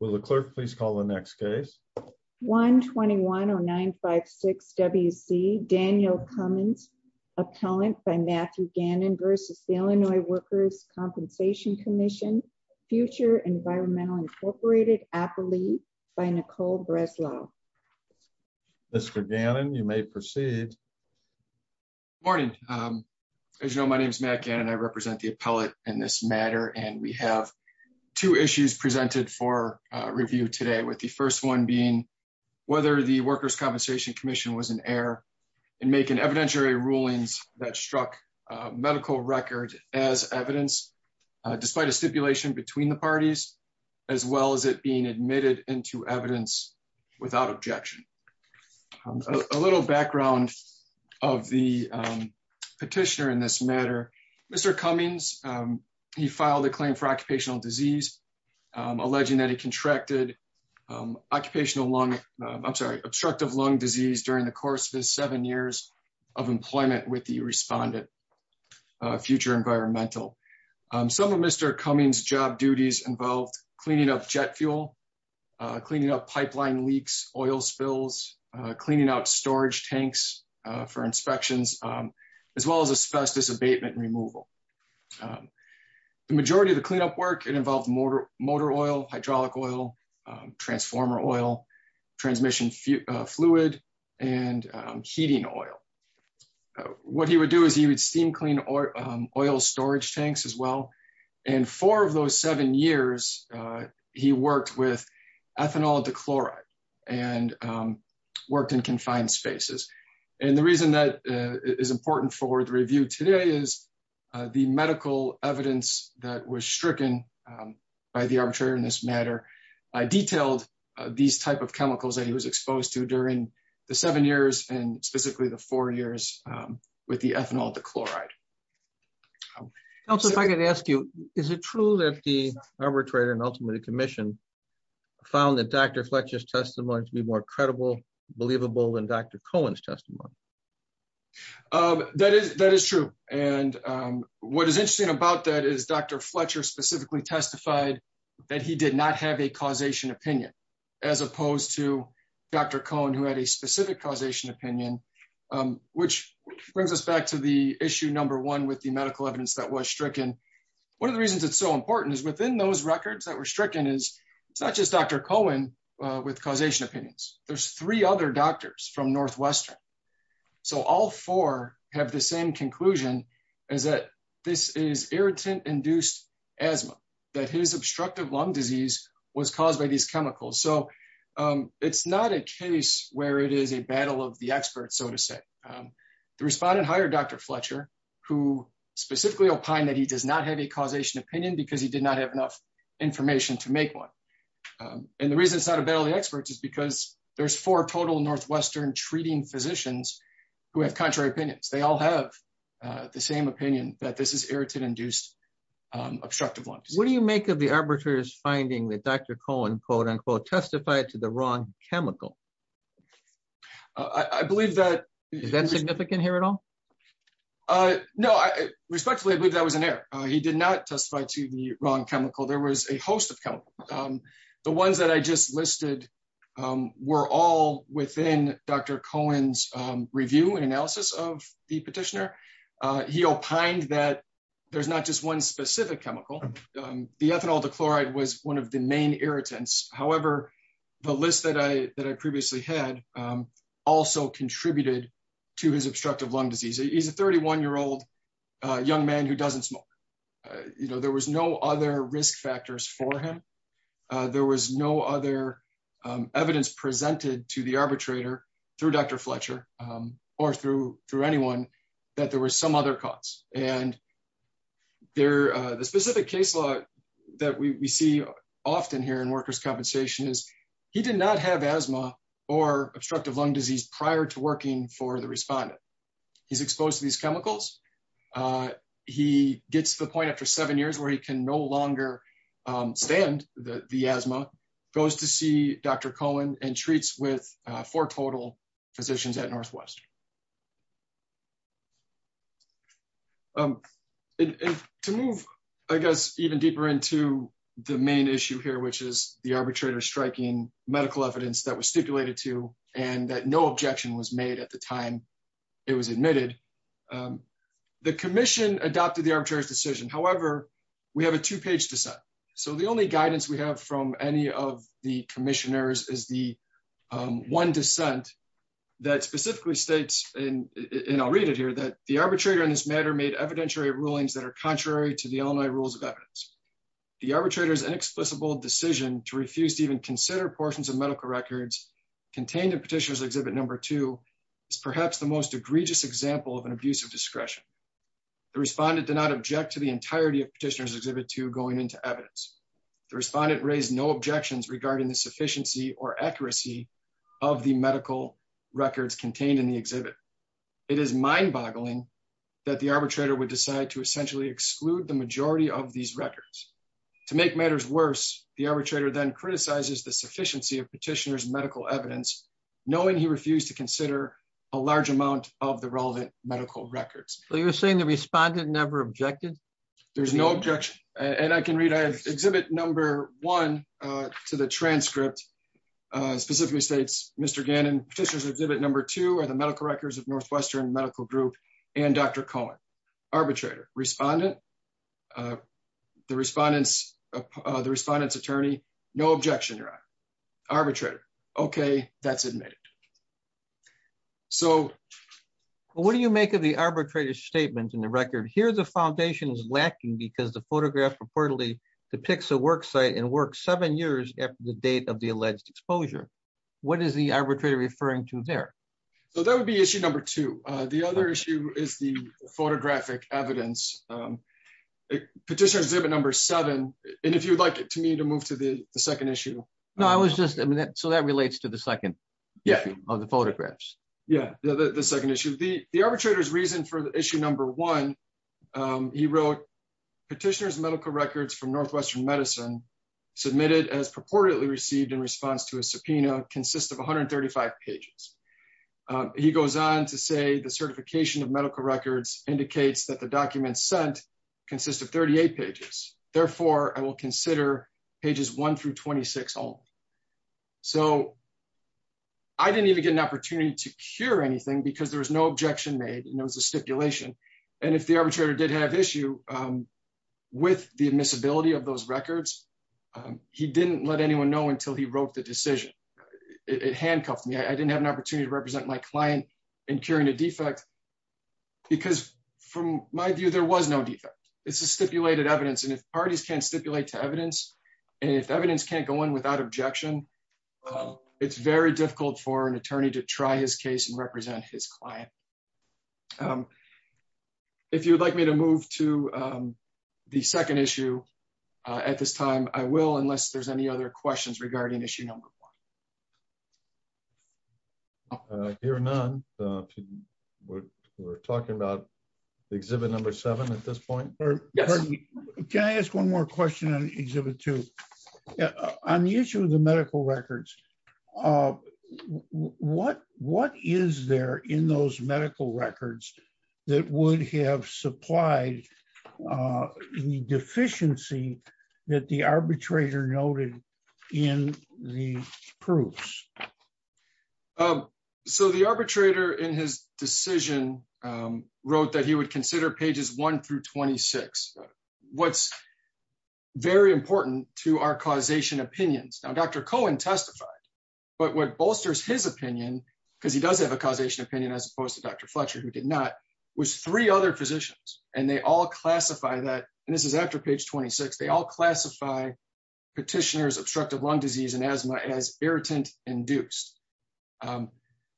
Will the clerk please call the next case? 1210956WC Daniel Cummings, appellant by Matthew Gannon v. The Illinois Workers' Compensation Commission, future Environmental Incorporated appellee by Nicole Breslow. Mr. Gannon, you may proceed. Morning. As you know, my name is Matt Gannon. I represent the appellate in this matter, and we have two issues presented for review today, with the first one being whether the Workers' Compensation Commission was in error in making evidentiary rulings that struck medical record as evidence, despite a stipulation between the parties, as well as it being admitted into evidence without objection. A little background of the petitioner in this matter. Mr. Cummings, he filed a claim for occupational disease, alleging that he contracted occupational lung, I'm sorry, obstructive lung disease during the course of his seven years of employment with the respondent, Future Environmental. Some of Mr. Cummings' job duties involved cleaning up jet fuel, cleaning up pipeline leaks, oil spills, cleaning out storage The majority of the cleanup work, it involved motor oil, hydraulic oil, transformer oil, transmission fluid, and heating oil. What he would do is he would steam clean oil storage tanks as well. And four of those seven years, he worked with ethanol dichloride, and worked in confined spaces. And the reason that is important for the review today is the medical evidence that was stricken by the arbitrator in this matter, detailed these type of chemicals that he was exposed to during the seven years and specifically the four years with the ethanol dichloride. Also, if I could ask you, is it true that the arbitrator and ultimately the commission found that Dr. Fletcher's testimony to be more credible, believable than Dr. Cohen's testimony? That is true. And what is interesting about that is Dr. Fletcher specifically testified that he did not have a causation opinion, as opposed to Dr. Cohen, who had a specific causation opinion, which brings us back to the issue number one with the medical evidence that was stricken. One of the reasons it's so important is within those records that were stricken is it's not just Dr. Cohen with causation opinions. There's three other doctors from Northwestern so all four have the same conclusion is that this is irritant induced asthma, that his obstructive lung disease was caused by these chemicals. So it's not a case where it is a battle of the experts, so to say. The respondent hired Dr. Fletcher, who specifically opined that he does not have a causation opinion because he did not have enough information to make one. And the reason it's not a battle of the experts is because there's four total Northwestern treating physicians who have contrary opinions. They all have the same opinion that this is irritant induced obstructive lung disease. What do you make of the arbitrator's finding that Dr. Cohen testified to the wrong chemical? Is that significant here at all? No. Respectfully, I believe that was an error. He did not testify to the wrong chemical. There was a host of chemicals. The ones that I just listed were all within Dr. Cohen's review and analysis of the petitioner. He opined that there's not just one specific chemical. The ethanol dichloride was one of the main irritants. However, the list that I previously had also contributed to his obstructive lung disease. He's a 31-year-old young man who doesn't smoke. There was no other risk factors for him. There was no other evidence presented to the arbitrator through Dr. Fletcher or through anyone that there was some other cause. And the specific case law that we see often here in workers' compensation is he did not have asthma or obstructive lung disease prior to working for the respondent. He's exposed to these chemicals. He gets to the point after seven years where he can no longer stand the asthma, goes to see Dr. Cohen, and treats with four total physicians at Northwest. To move, I guess, even deeper into the main issue here, which is the arbitrator striking medical evidence that was stipulated to and that no objection was made at the time it was admitted. The commission adopted the arbitrator's decision. However, we have a two-page dissent. So the only guidance we have from any of the commissioners is the one dissent that specifically states, and I'll read it here, that the arbitrator in this matter made evidentiary rulings that are contrary to the Illinois rules of evidence. The arbitrator's inexplicable decision to refuse to even consider portions of medical records contained in of an abuse of discretion. The respondent did not object to the entirety of Petitioner's Exhibit 2 going into evidence. The respondent raised no objections regarding the sufficiency or accuracy of the medical records contained in the exhibit. It is mind-boggling that the arbitrator would decide to essentially exclude the majority of these records. To make matters worse, the arbitrator then criticizes the sufficiency of Petitioner's medical evidence, knowing he refused to consider a large amount of the relevant medical records. So you're saying the respondent never objected? There's no objection. And I can read, I have Exhibit 1 to the transcript, specifically states, Mr. Gannon, Petitioner's Exhibit 2 are the medical records of Northwestern Medical Group and Dr. Cohen. Arbitrator, respondent, the respondent's attorney, no objection. Arbitrator, okay, that's admitted. So what do you make of the arbitrator's statements in the record? Here, the foundation is lacking because the photograph reportedly depicts a work site and works seven years after the date of the alleged exposure. What is the arbitrator referring to there? So that would be issue number two. The other issue is the photographic evidence. Petitioner's second issue. So that relates to the second issue of the photographs. Yeah, the second issue. The arbitrator's reason for issue number one, he wrote, Petitioner's medical records from Northwestern Medicine submitted as purportedly received in response to a subpoena consists of 135 pages. He goes on to say the certification of medical records indicates that the documents sent consist of 38 pages. Therefore, I will consider pages one through 26 only. So I didn't even get an opportunity to cure anything because there was no objection made and it was a stipulation. And if the arbitrator did have issue with the admissibility of those records, he didn't let anyone know until he wrote the decision. It handcuffed me. I didn't have an opportunity to represent my client in curing a defect because from my view, there was no defect. It's a stipulated evidence. And if parties can't stipulate to evidence and if evidence can't go in without objection, it's very difficult for an attorney to try his case and represent his client. If you would like me to move to the second issue at this time, I will, hear none. We're talking about exhibit number seven at this point. Can I ask one more question on exhibit two? On the issue of the medical records, what is there in those medical records that would have supplied the deficiency that the arbitrator noted in the proofs? So the arbitrator in his decision wrote that he would consider pages one through 26. What's very important to our causation opinions. Now, Dr. Cohen testified, but what bolsters his opinion, because he does have a causation opinion as opposed to Dr. Fletcher, who did not, was three other physicians. And they all classify that, and this is after page 26, they all classify petitioners obstructive lung disease and asthma as irritant induced.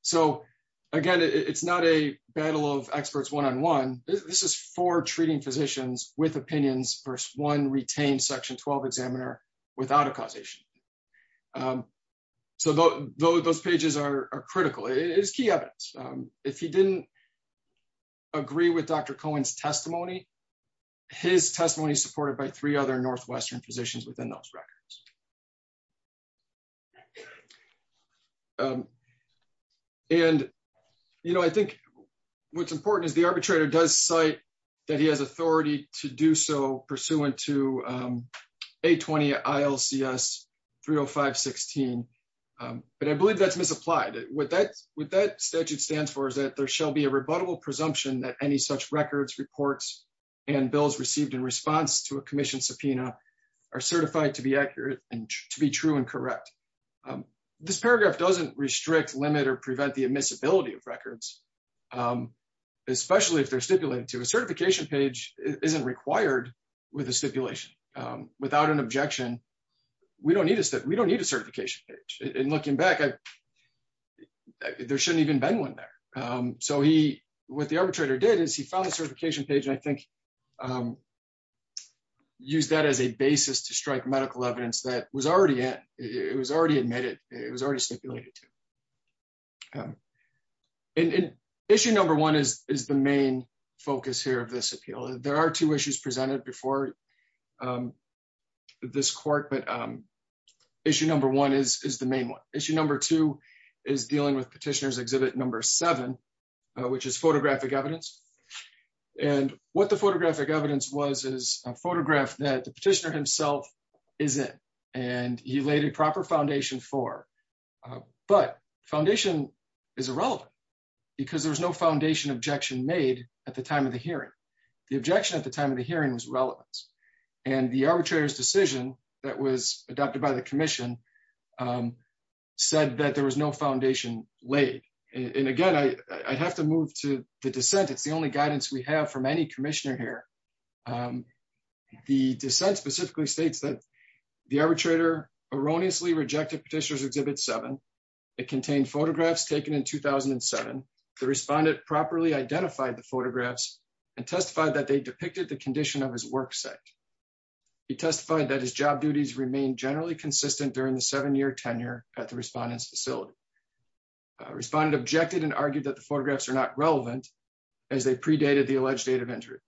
So again, it's not a battle of experts one-on-one. This is for treating physicians with opinions versus one retained section 12 examiner without a causation. So those pages are critical. It is key evidence. If he didn't agree with Dr. Cohen's testimony, his testimony is supported by three other Northwestern physicians within those records. And I think what's important is the arbitrator does cite that he has authority to do so pursuant to 820 ILCS 30516. But I believe that's misapplied. What that statute stands for is that there shall be a rebuttable presumption that any such records reports and bills received in response to a commission subpoena are certified to be accurate and to be true and correct. This paragraph doesn't restrict, limit, or prevent the admissibility of records, especially if they're stipulated to. A certification page isn't required with a stipulation. Without an objection, we don't need a certification page. And looking back, there shouldn't even been one there. So what the arbitrator did is he found the certification page, and I think used that as a basis to strike medical evidence that it was already admitted, it was already stipulated to. Issue number one is the main focus here of this appeal. There are two issues presented before this court, but issue number one is the main one. Issue number two is dealing with petitioner's exhibit number seven, which is photographic evidence. And what the photographic evidence was is a photograph that the petitioner himself is in. And he laid a proper foundation for, but foundation is irrelevant because there was no foundation objection made at the time of the hearing. The objection at the time of the hearing was relevant. And the arbitrator's decision that was adopted by the commission said that there was no foundation laid. And again, I'd have to move to the dissent. It's the only guidance we have from any commissioner here. The dissent specifically states that the arbitrator erroneously rejected petitioner's exhibit seven. It contained photographs taken in 2007. The respondent properly identified the photographs and testified that they depicted the condition of his work site. He testified that his job duties remained generally consistent during the seven-year tenure at the respondent's facility. Respondent objected and argued that the photographs are not relevant as they predated the alleged date of entry.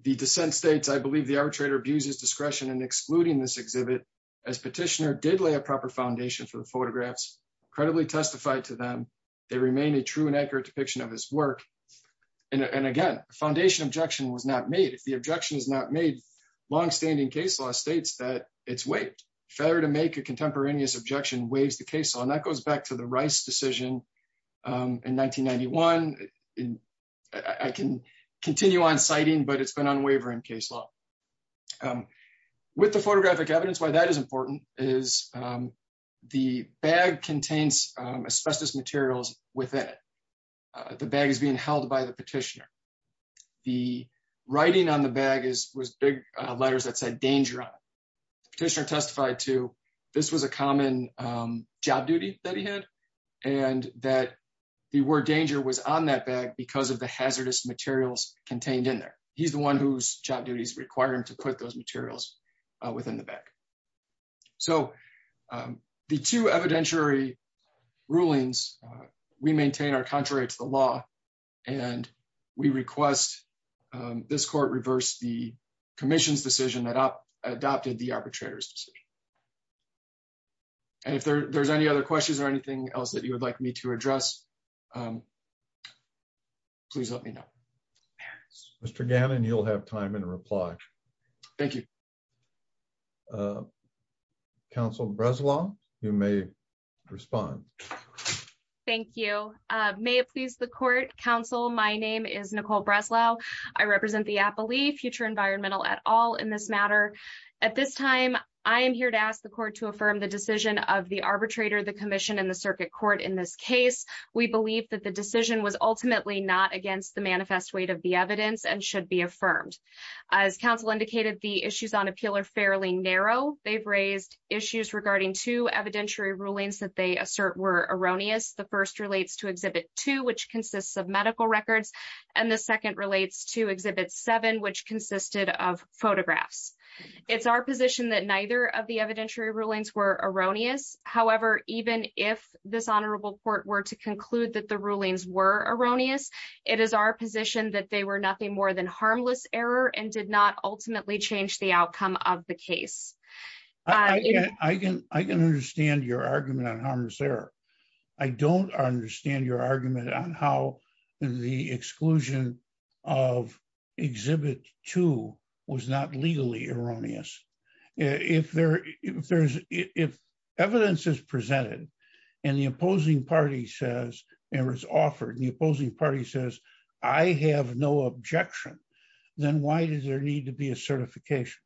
The dissent states, I believe the arbitrator abuses discretion in excluding this exhibit as petitioner did lay a proper foundation for the photographs, credibly testified to them. They remain a true and accurate depiction of his work. And again, the foundation objection was not made. If the objection is not made, long-standing case law states that it's waived. Failure to make a contemporaneous objection waives the case law. That goes back to the Rice decision in 1991. I can continue on citing, but it's been unwavering case law. With the photographic evidence, why that is important is the bag contains asbestos materials within it. The bag is being held by the petitioner. The writing on the bag was big letters that said danger on it. Petitioner testified to this was a common job duty that he had and that the word danger was on that bag because of the hazardous materials contained in there. He's the one whose job duties require him to put those materials within the bag. So the two evidentiary rulings we maintain are contrary to the law and we request this commission's decision that adopted the arbitrator's decision. And if there's any other questions or anything else that you would like me to address, please let me know. Mr. Gannon, you'll have time in reply. Thank you. Counsel Breslau, you may respond. Thank you. May it please the court. Counsel, my name is in this matter. At this time, I am here to ask the court to affirm the decision of the arbitrator, the commission and the circuit court in this case. We believe that the decision was ultimately not against the manifest weight of the evidence and should be affirmed. As counsel indicated, the issues on appeal are fairly narrow. They've raised issues regarding two evidentiary rulings that they assert were erroneous. The first relates to exhibit two, which consists of medical records and the second relates to exhibit seven, which consisted of photographs. It's our position that neither of the evidentiary rulings were erroneous. However, even if this honorable court were to conclude that the rulings were erroneous, it is our position that they were nothing more than harmless error and did not ultimately change the outcome of the case. I can understand your argument on how the exclusion of exhibit two was not legally erroneous. If evidence is presented and the opposing party says I have no objection, then why does there need to be a certification?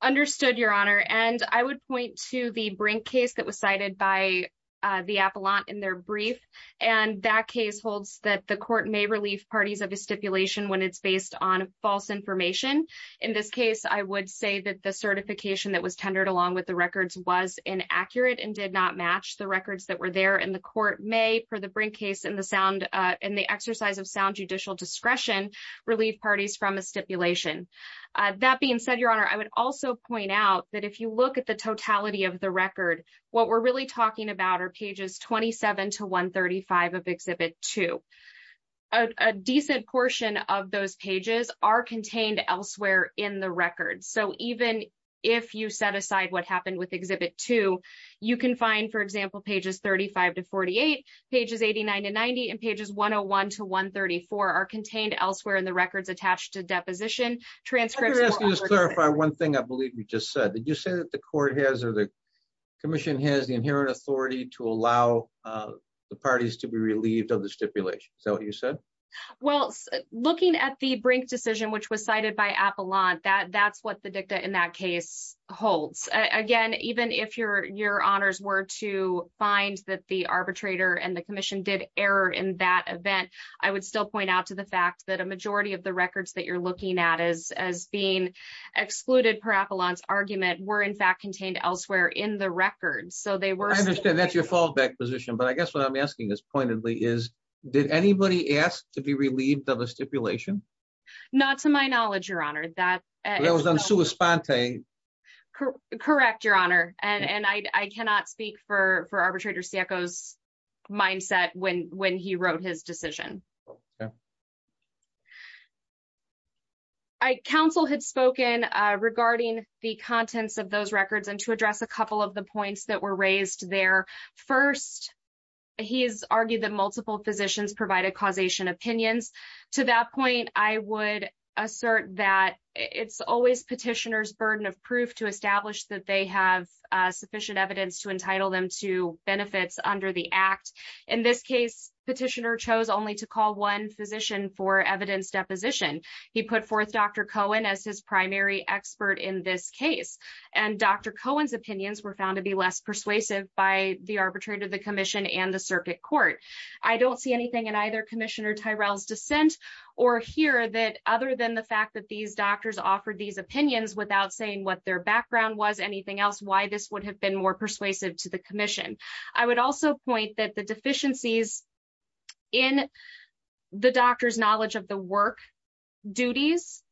Understood, your honor. I would point to the Brink case that was cited by the appellant in their brief. That case holds that the court may relieve parties of a stipulation when it's based on false information. In this case, I would say that the certification that was tendered along with the records was inaccurate and did not match the records that were there. The court may, for the Brink case and the exercise of sound judicial discretion, relieve parties from a stipulation. That being said, your honor, I would also point out that if you look at the totality of the record, what we're really talking about are pages 27 to 135 of exhibit two. A decent portion of those pages are contained elsewhere in the record. Even if you set aside what happened with exhibit two, you can find, for example, pages 35 to 48, pages 89 to 90, and pages 101 to 134 are contained elsewhere in the records attached to deposition transcripts. One thing I believe you just said, did you say that the court has or the commission has the inherent authority to allow the parties to be relieved of the stipulation? Is that what you said? Well, looking at the Brink decision, which was cited by appellant, that's what the dicta in that case holds. Again, even if your honors were to find that the arbitrator and the commission did error in that event, I would still point out to the fact that a majority of the records that you're excluding appellant's argument were in fact contained elsewhere in the records. I understand that's your fallback position, but I guess what I'm asking is pointedly, is did anybody ask to be relieved of a stipulation? Not to my knowledge, your honor. That was on sua sponte. Correct, your honor, and I cannot speak for arbitrator Siecko's mindset when he wrote his regarding the contents of those records and to address a couple of the points that were raised there. First, he's argued that multiple physicians provided causation opinions. To that point, I would assert that it's always petitioner's burden of proof to establish that they have sufficient evidence to entitle them to benefits under the act. In this case, petitioner chose only to call one physician for evidence deposition. He put forth Dr. Cohen as primary expert in this case. Dr. Cohen's opinions were found to be less persuasive by the arbitrator, the commission and the circuit court. I don't see anything in either commissioner Tyrell's dissent or here that other than the fact that these doctors offered these opinions without saying what their background was, anything else, why this would have been more persuasive to the commission. I would also point that the deficiencies in the doctor's knowledge of the work duties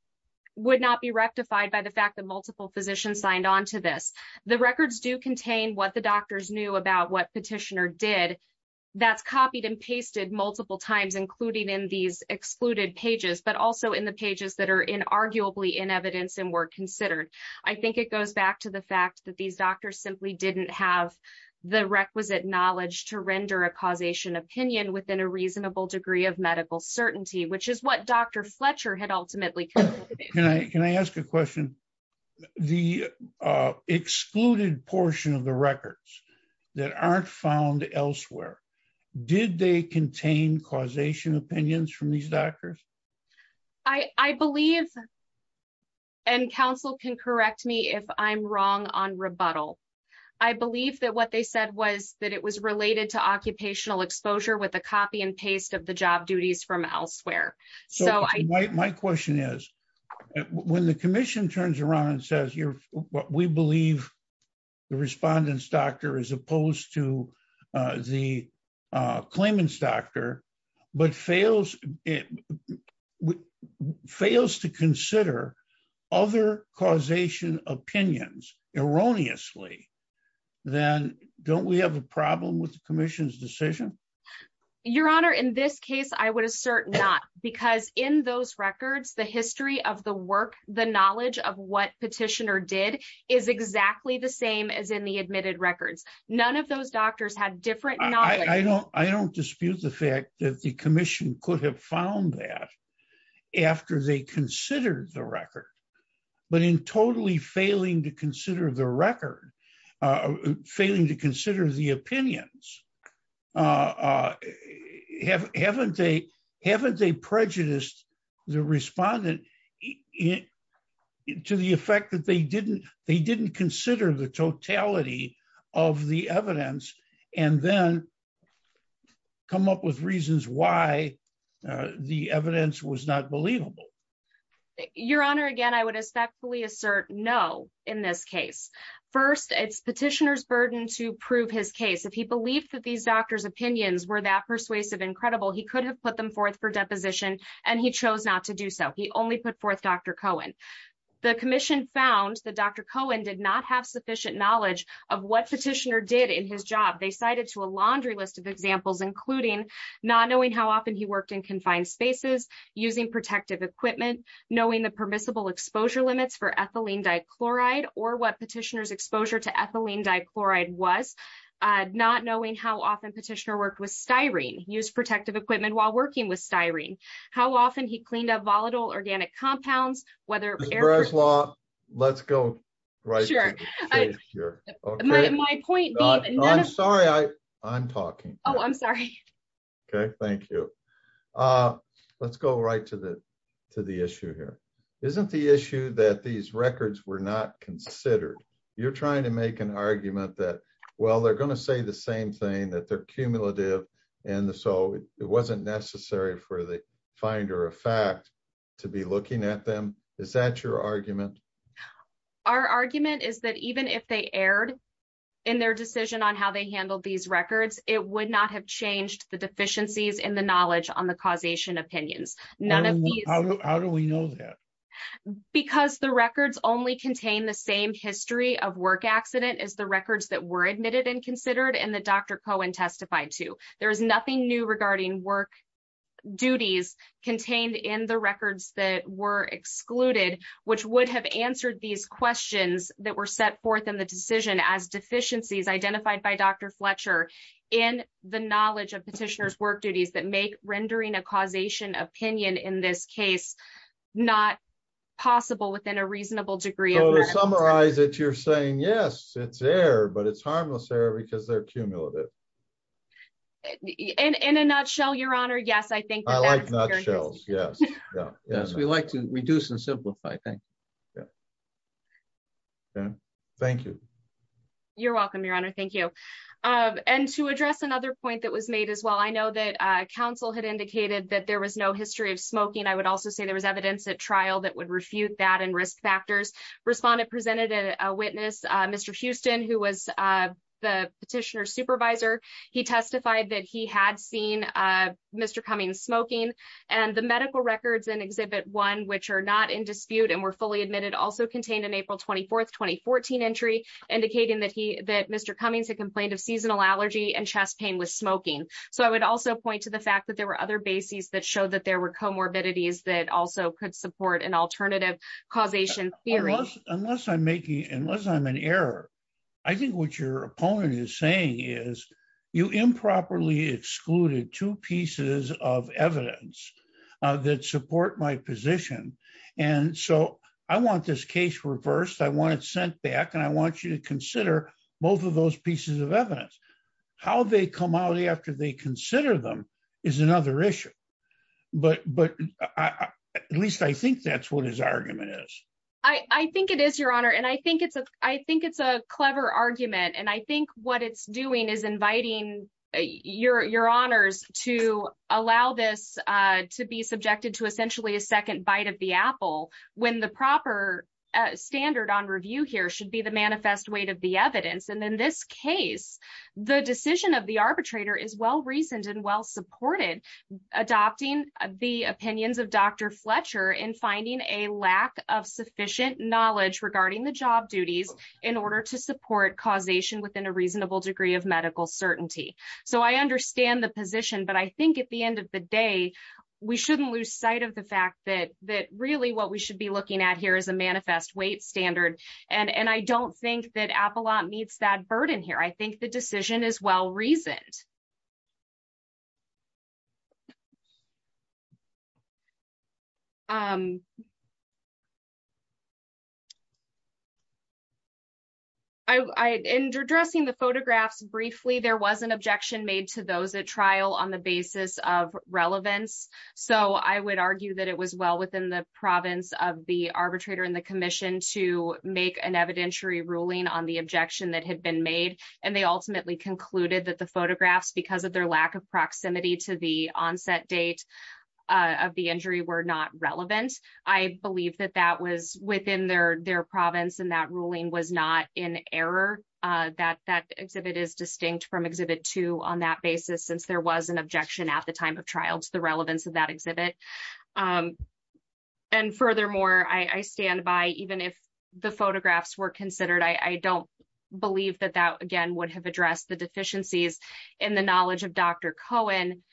would not be rectified by the fact that multiple physicians signed on to this. The records do contain what the doctors knew about what petitioner did. That's copied and pasted multiple times, including in these excluded pages, but also in the pages that are in arguably in evidence and were considered. I think it goes back to the fact that these doctors simply didn't have the requisite knowledge to render a causation opinion within a Can I ask a question? The excluded portion of the records that aren't found elsewhere, did they contain causation opinions from these doctors? I believe and counsel can correct me if I'm wrong on rebuttal. I believe that what they said was that it was related to occupational exposure with a copy and paste of the job duties from elsewhere. So my question is, when the commission turns around and says you're what we believe, the respondents doctor as opposed to the claimants doctor, but fails, fails to consider other causation opinions erroneously, then don't we have a problem with the commission's decision? Your Honor, in this case, I would assert not because in those records, the history of the work, the knowledge of what petitioner did is exactly the same as in the admitted records. None of those doctors had different. I don't dispute the fact that the commission could have found that after they considered the record, but in totally failing to consider the record, failing to consider the opinions, haven't they prejudiced the respondent to the effect that they didn't consider the totality of the evidence and then come up with reasons why the evidence was not believable. Your Honor, again, I would respectfully assert no in this case. First, it's petitioner's burden to prove his case. If he believed that these doctor's opinions were that persuasive and credible, he could have put them forth for deposition and he chose not to do so. He only put forth Dr. Cohen. The commission found that Dr. Cohen did not have sufficient knowledge of what petitioner did in his job. They cited to a laundry list of examples, including not knowing how often he worked in confined spaces, using protective equipment, knowing the permissible exposure limits for ethylene dichloride or what petitioner's exposure to ethylene dichloride was, not knowing how often petitioner worked with styrene, used protective equipment while working with styrene, how often he cleaned up volatile organic compounds, whether- Ms. Breslau, let's go right to the case here. My point being- I'm sorry, I'm talking. Oh, I'm sorry. Okay, thank you. Let's go right to the issue here. Isn't the issue that these records were not considered? You're trying to make an argument that, well, they're going to say the same thing, that they're cumulative and so it wasn't necessary for the finder of fact to be looking at them. Is that your argument? Our argument is that even if they erred in their work, they would not have changed the deficiencies in the knowledge on the causation opinions. None of these- How do we know that? Because the records only contain the same history of work accident as the records that were admitted and considered and that Dr. Cohen testified to. There is nothing new regarding work duties contained in the records that were excluded, which would have answered these questions that were set forth in the decision as deficiencies identified by Dr. Fletcher in the knowledge of petitioner's work duties that make rendering a causation opinion in this case not possible within a reasonable degree of- So to summarize it, you're saying, yes, it's error, but it's harmless error because they're cumulative. In a nutshell, your honor, yes, I think- I like nutshells, yes. We like to reduce and simplify things. Thank you. You're welcome, your honor. And to address another point that was made as well, I know that counsel had indicated that there was no history of smoking. I would also say there was evidence at trial that would refute that and risk factors. Respondent presented a witness, Mr. Houston, who was the petitioner's supervisor. He testified that he had seen Mr. Cummings smoking and the medical records in Exhibit 1, which are not in dispute and were fully admitted, also contained an April 24th, 2014 entry indicating that Mr. Cummings had complained of seasonal allergy and chest pain with smoking. So I would also point to the fact that there were other bases that showed that there were comorbidities that also could support an alternative causation theory. Unless I'm making- unless I'm in error, I think what your opponent is saying is you improperly excluded two pieces of evidence that support my position. And so I want this to consider both of those pieces of evidence. How they come out after they consider them is another issue. But at least I think that's what his argument is. I think it is, your honor. And I think it's a clever argument. And I think what it's doing is inviting your honors to allow this to be subjected to essentially a second bite of the apple when the proper standard on review here should be the manifest weight of the evidence. And in this case, the decision of the arbitrator is well-reasoned and well-supported, adopting the opinions of Dr. Fletcher in finding a lack of sufficient knowledge regarding the job duties in order to support causation within a reasonable degree of medical certainty. So I understand the position, but I think at the end of the day, we shouldn't lose sight of the looking at here as a manifest weight standard. And I don't think that Appalach meets that burden here. I think the decision is well-reasoned. In addressing the photographs briefly, there was an objection made to those at trial on the basis of relevance. So I would argue that it was well within the province of the arbitrator and the commission to make an evidentiary ruling on the objection that had been made. And they ultimately concluded that the photographs, because of their lack of proximity to the onset date of the injury were not relevant. I believe that that was within their province and that ruling was not in error. That exhibit is distinct from exhibit two on that basis, since there was an objection at the time of trial to the and furthermore, I stand by, even if the photographs were considered, I don't believe that that again would have addressed the deficiencies in the knowledge of Dr. Cohen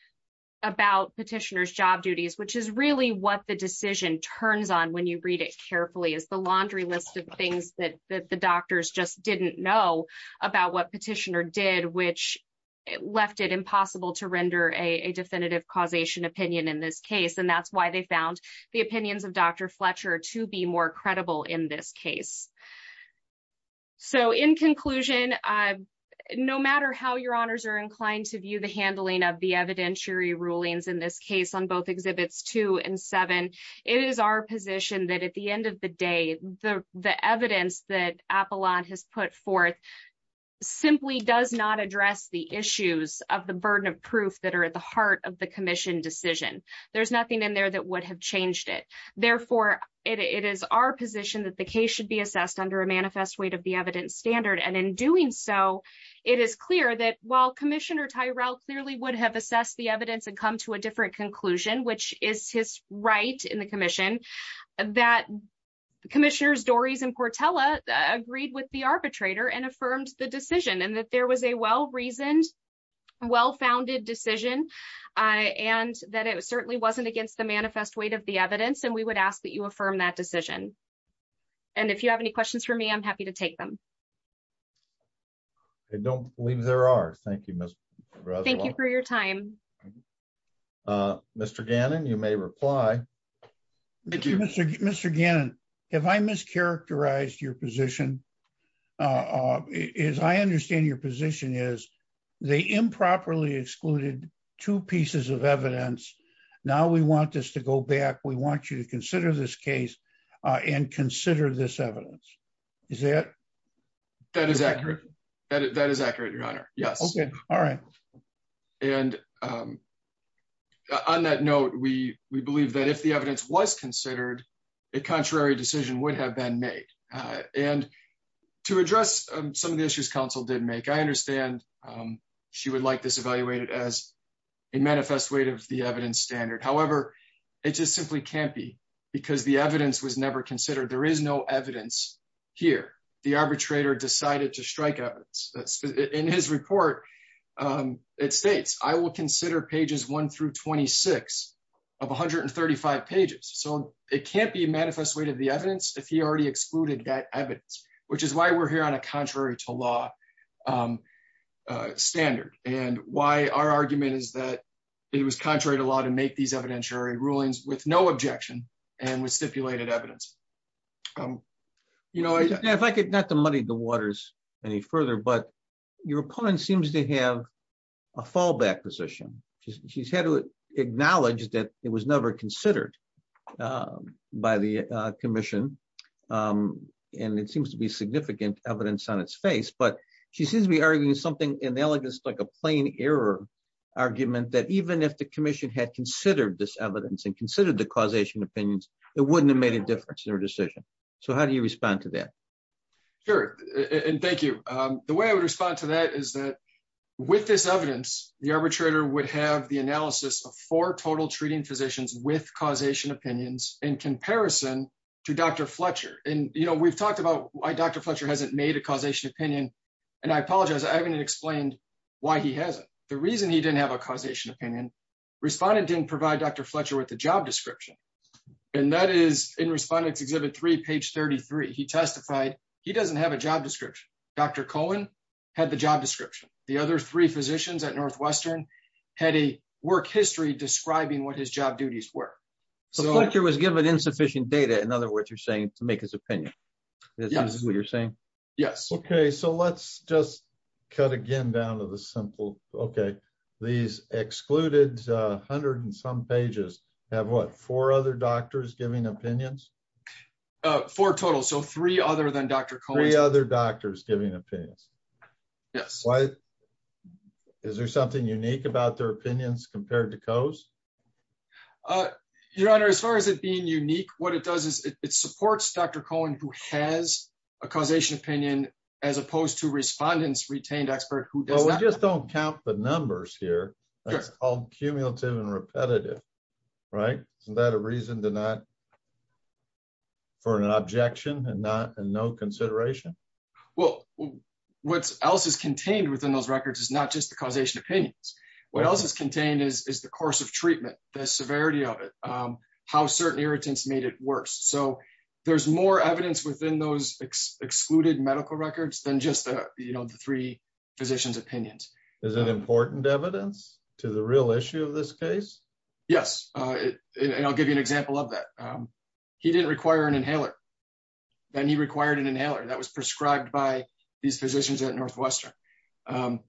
about petitioner's job duties, which is really what the decision turns on when you read it carefully as the laundry list of things that the doctors just didn't know about what petitioner did, which left it impossible to render a definitive causation opinion in this case. And that's why found the opinions of Dr. Fletcher to be more credible in this case. So in conclusion, no matter how your honors are inclined to view the handling of the evidentiary rulings in this case on both exhibits two and seven, it is our position that at the end of the day, the evidence that Apollon has put forth simply does not address the issues of the burden of proof that are at heart of the commission decision. There's nothing in there that would have changed it. Therefore, it is our position that the case should be assessed under a manifest weight of the evidence standard. And in doing so, it is clear that while commissioner Tyrell clearly would have assessed the evidence and come to a different conclusion, which is his right in the commission, that commissioners Dorries and Cortella agreed with the arbitrator and affirmed the decision and that was a well-reasoned, well-founded decision and that it certainly wasn't against the manifest weight of the evidence. And we would ask that you affirm that decision. And if you have any questions for me, I'm happy to take them. I don't believe there are. Thank you, Ms. Thank you for your time. Mr. Gannon, you may reply. Thank you, Mr. Mr. Gannon. Have I mischaracterized your position? As I understand your position is they improperly excluded two pieces of evidence. Now we want this to go back. We want you to consider this case and consider this evidence. Is that that is accurate? That is accurate, your honor. Yes. Okay. All right. And um, on that note, we, we believe that if the evidence was considered a contrary decision would have been made, uh, and to address some of the issues council didn't make, I understand. Um, she would like this evaluated as a manifest weight of the evidence standard. However, it just simply can't be because the evidence was never considered. There is no evidence here. The arbitrator decided to strike out in his report. Um, it States, I will consider pages one through 26 of 135 pages. So it can't be a manifest way to the evidence. If he already excluded that evidence, which is why we're here on a contrary to law, um, uh, standard and why our argument is that it was contrary to law to make these evidentiary rulings with no objection and with stipulated evidence. Um, you know, if I could not the money, the waters any further, but your opponent seems to have a fallback position. She's had to acknowledge that it was never considered, um, by the, uh, commission. Um, and it seems to be significant evidence on its face, but she seems to be arguing something analogous, like a plain error argument that even if the commission had considered this evidence and considered the causation opinions, it wouldn't have made a difference in her decision. So how do you respond to that? Sure. And thank you. Um, the way I would respond to that is that with this evidence, the arbitrator would have the analysis of four total treating physicians with causation opinions in comparison to Dr. Fletcher. And, you know, we've talked about why Dr. Fletcher hasn't made a causation opinion. And I apologize. I haven't explained why he has it. The reason he didn't have a causation opinion respondent didn't provide Dr. Fletcher with the job description. And that is in respondents exhibit three page 33, he testified he doesn't have a job description. Dr. Cohen had the job description. The other three physicians at Northwestern had a work history describing what his job duties were. So Fletcher was given insufficient data. In other words, you're saying to make his opinion, this is what you're saying. Yes. Okay. So let's just cut again down to the simple, okay. These excluded a hundred and some pages have what four other doctors giving opinions for total. So three other than Dr. Cohen, other doctors giving opinions. Yes. Why is there something unique about their opinions compared to COS? Your honor, as far as it being unique, what it does is it supports Dr. Cohen who has a causation opinion as opposed to respondents retained expert who does not count the numbers here. That's all cumulative and repetitive, right? Isn't that a reason to not for an objection and not a no consideration. Well, what else is contained within those records is not just the causation opinions. What else is contained is the course of treatment, the severity of it, how certain irritants made it worse. So there's more evidence within those excluded medical records than just the three physicians opinions. Is it important evidence to the real issue of this case? Yes. And I'll give you an example of that. He didn't require an inhaler. Then he required an inhaler that was prescribed by these physicians at Northwestern. Who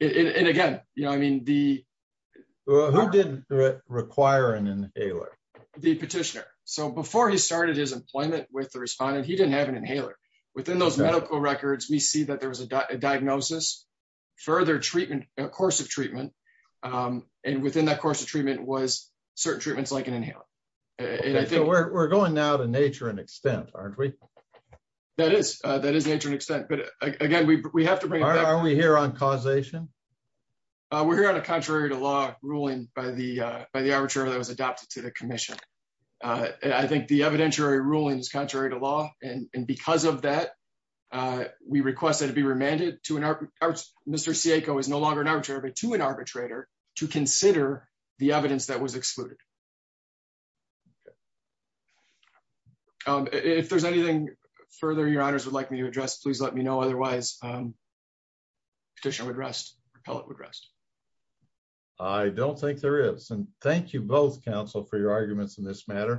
didn't require an inhaler? The petitioner. So before he started his employment with the respondent, he didn't have an inhaler. Within those medical records, we see that there was a diagnosis, further treatment, a course of treatment, and within that course of treatment was certain treatments like an inhaler. We're going now to nature and extent, aren't we? That is nature and extent. But again, are we here on causation? We're here on a contrary to law ruling by the arbitrator that was adopted to the commission. I think the evidentiary ruling is contrary to law. And because of that, we request that it be remanded. Mr. Siecko is no longer an arbitrator, but to an arbitrator to consider the evidence that was excluded. If there's anything further your honors would like me to address, please let me know. Otherwise, petitioner would rest, repellent would rest. I don't think there is. And thank you both, counsel, for your arguments in this matter.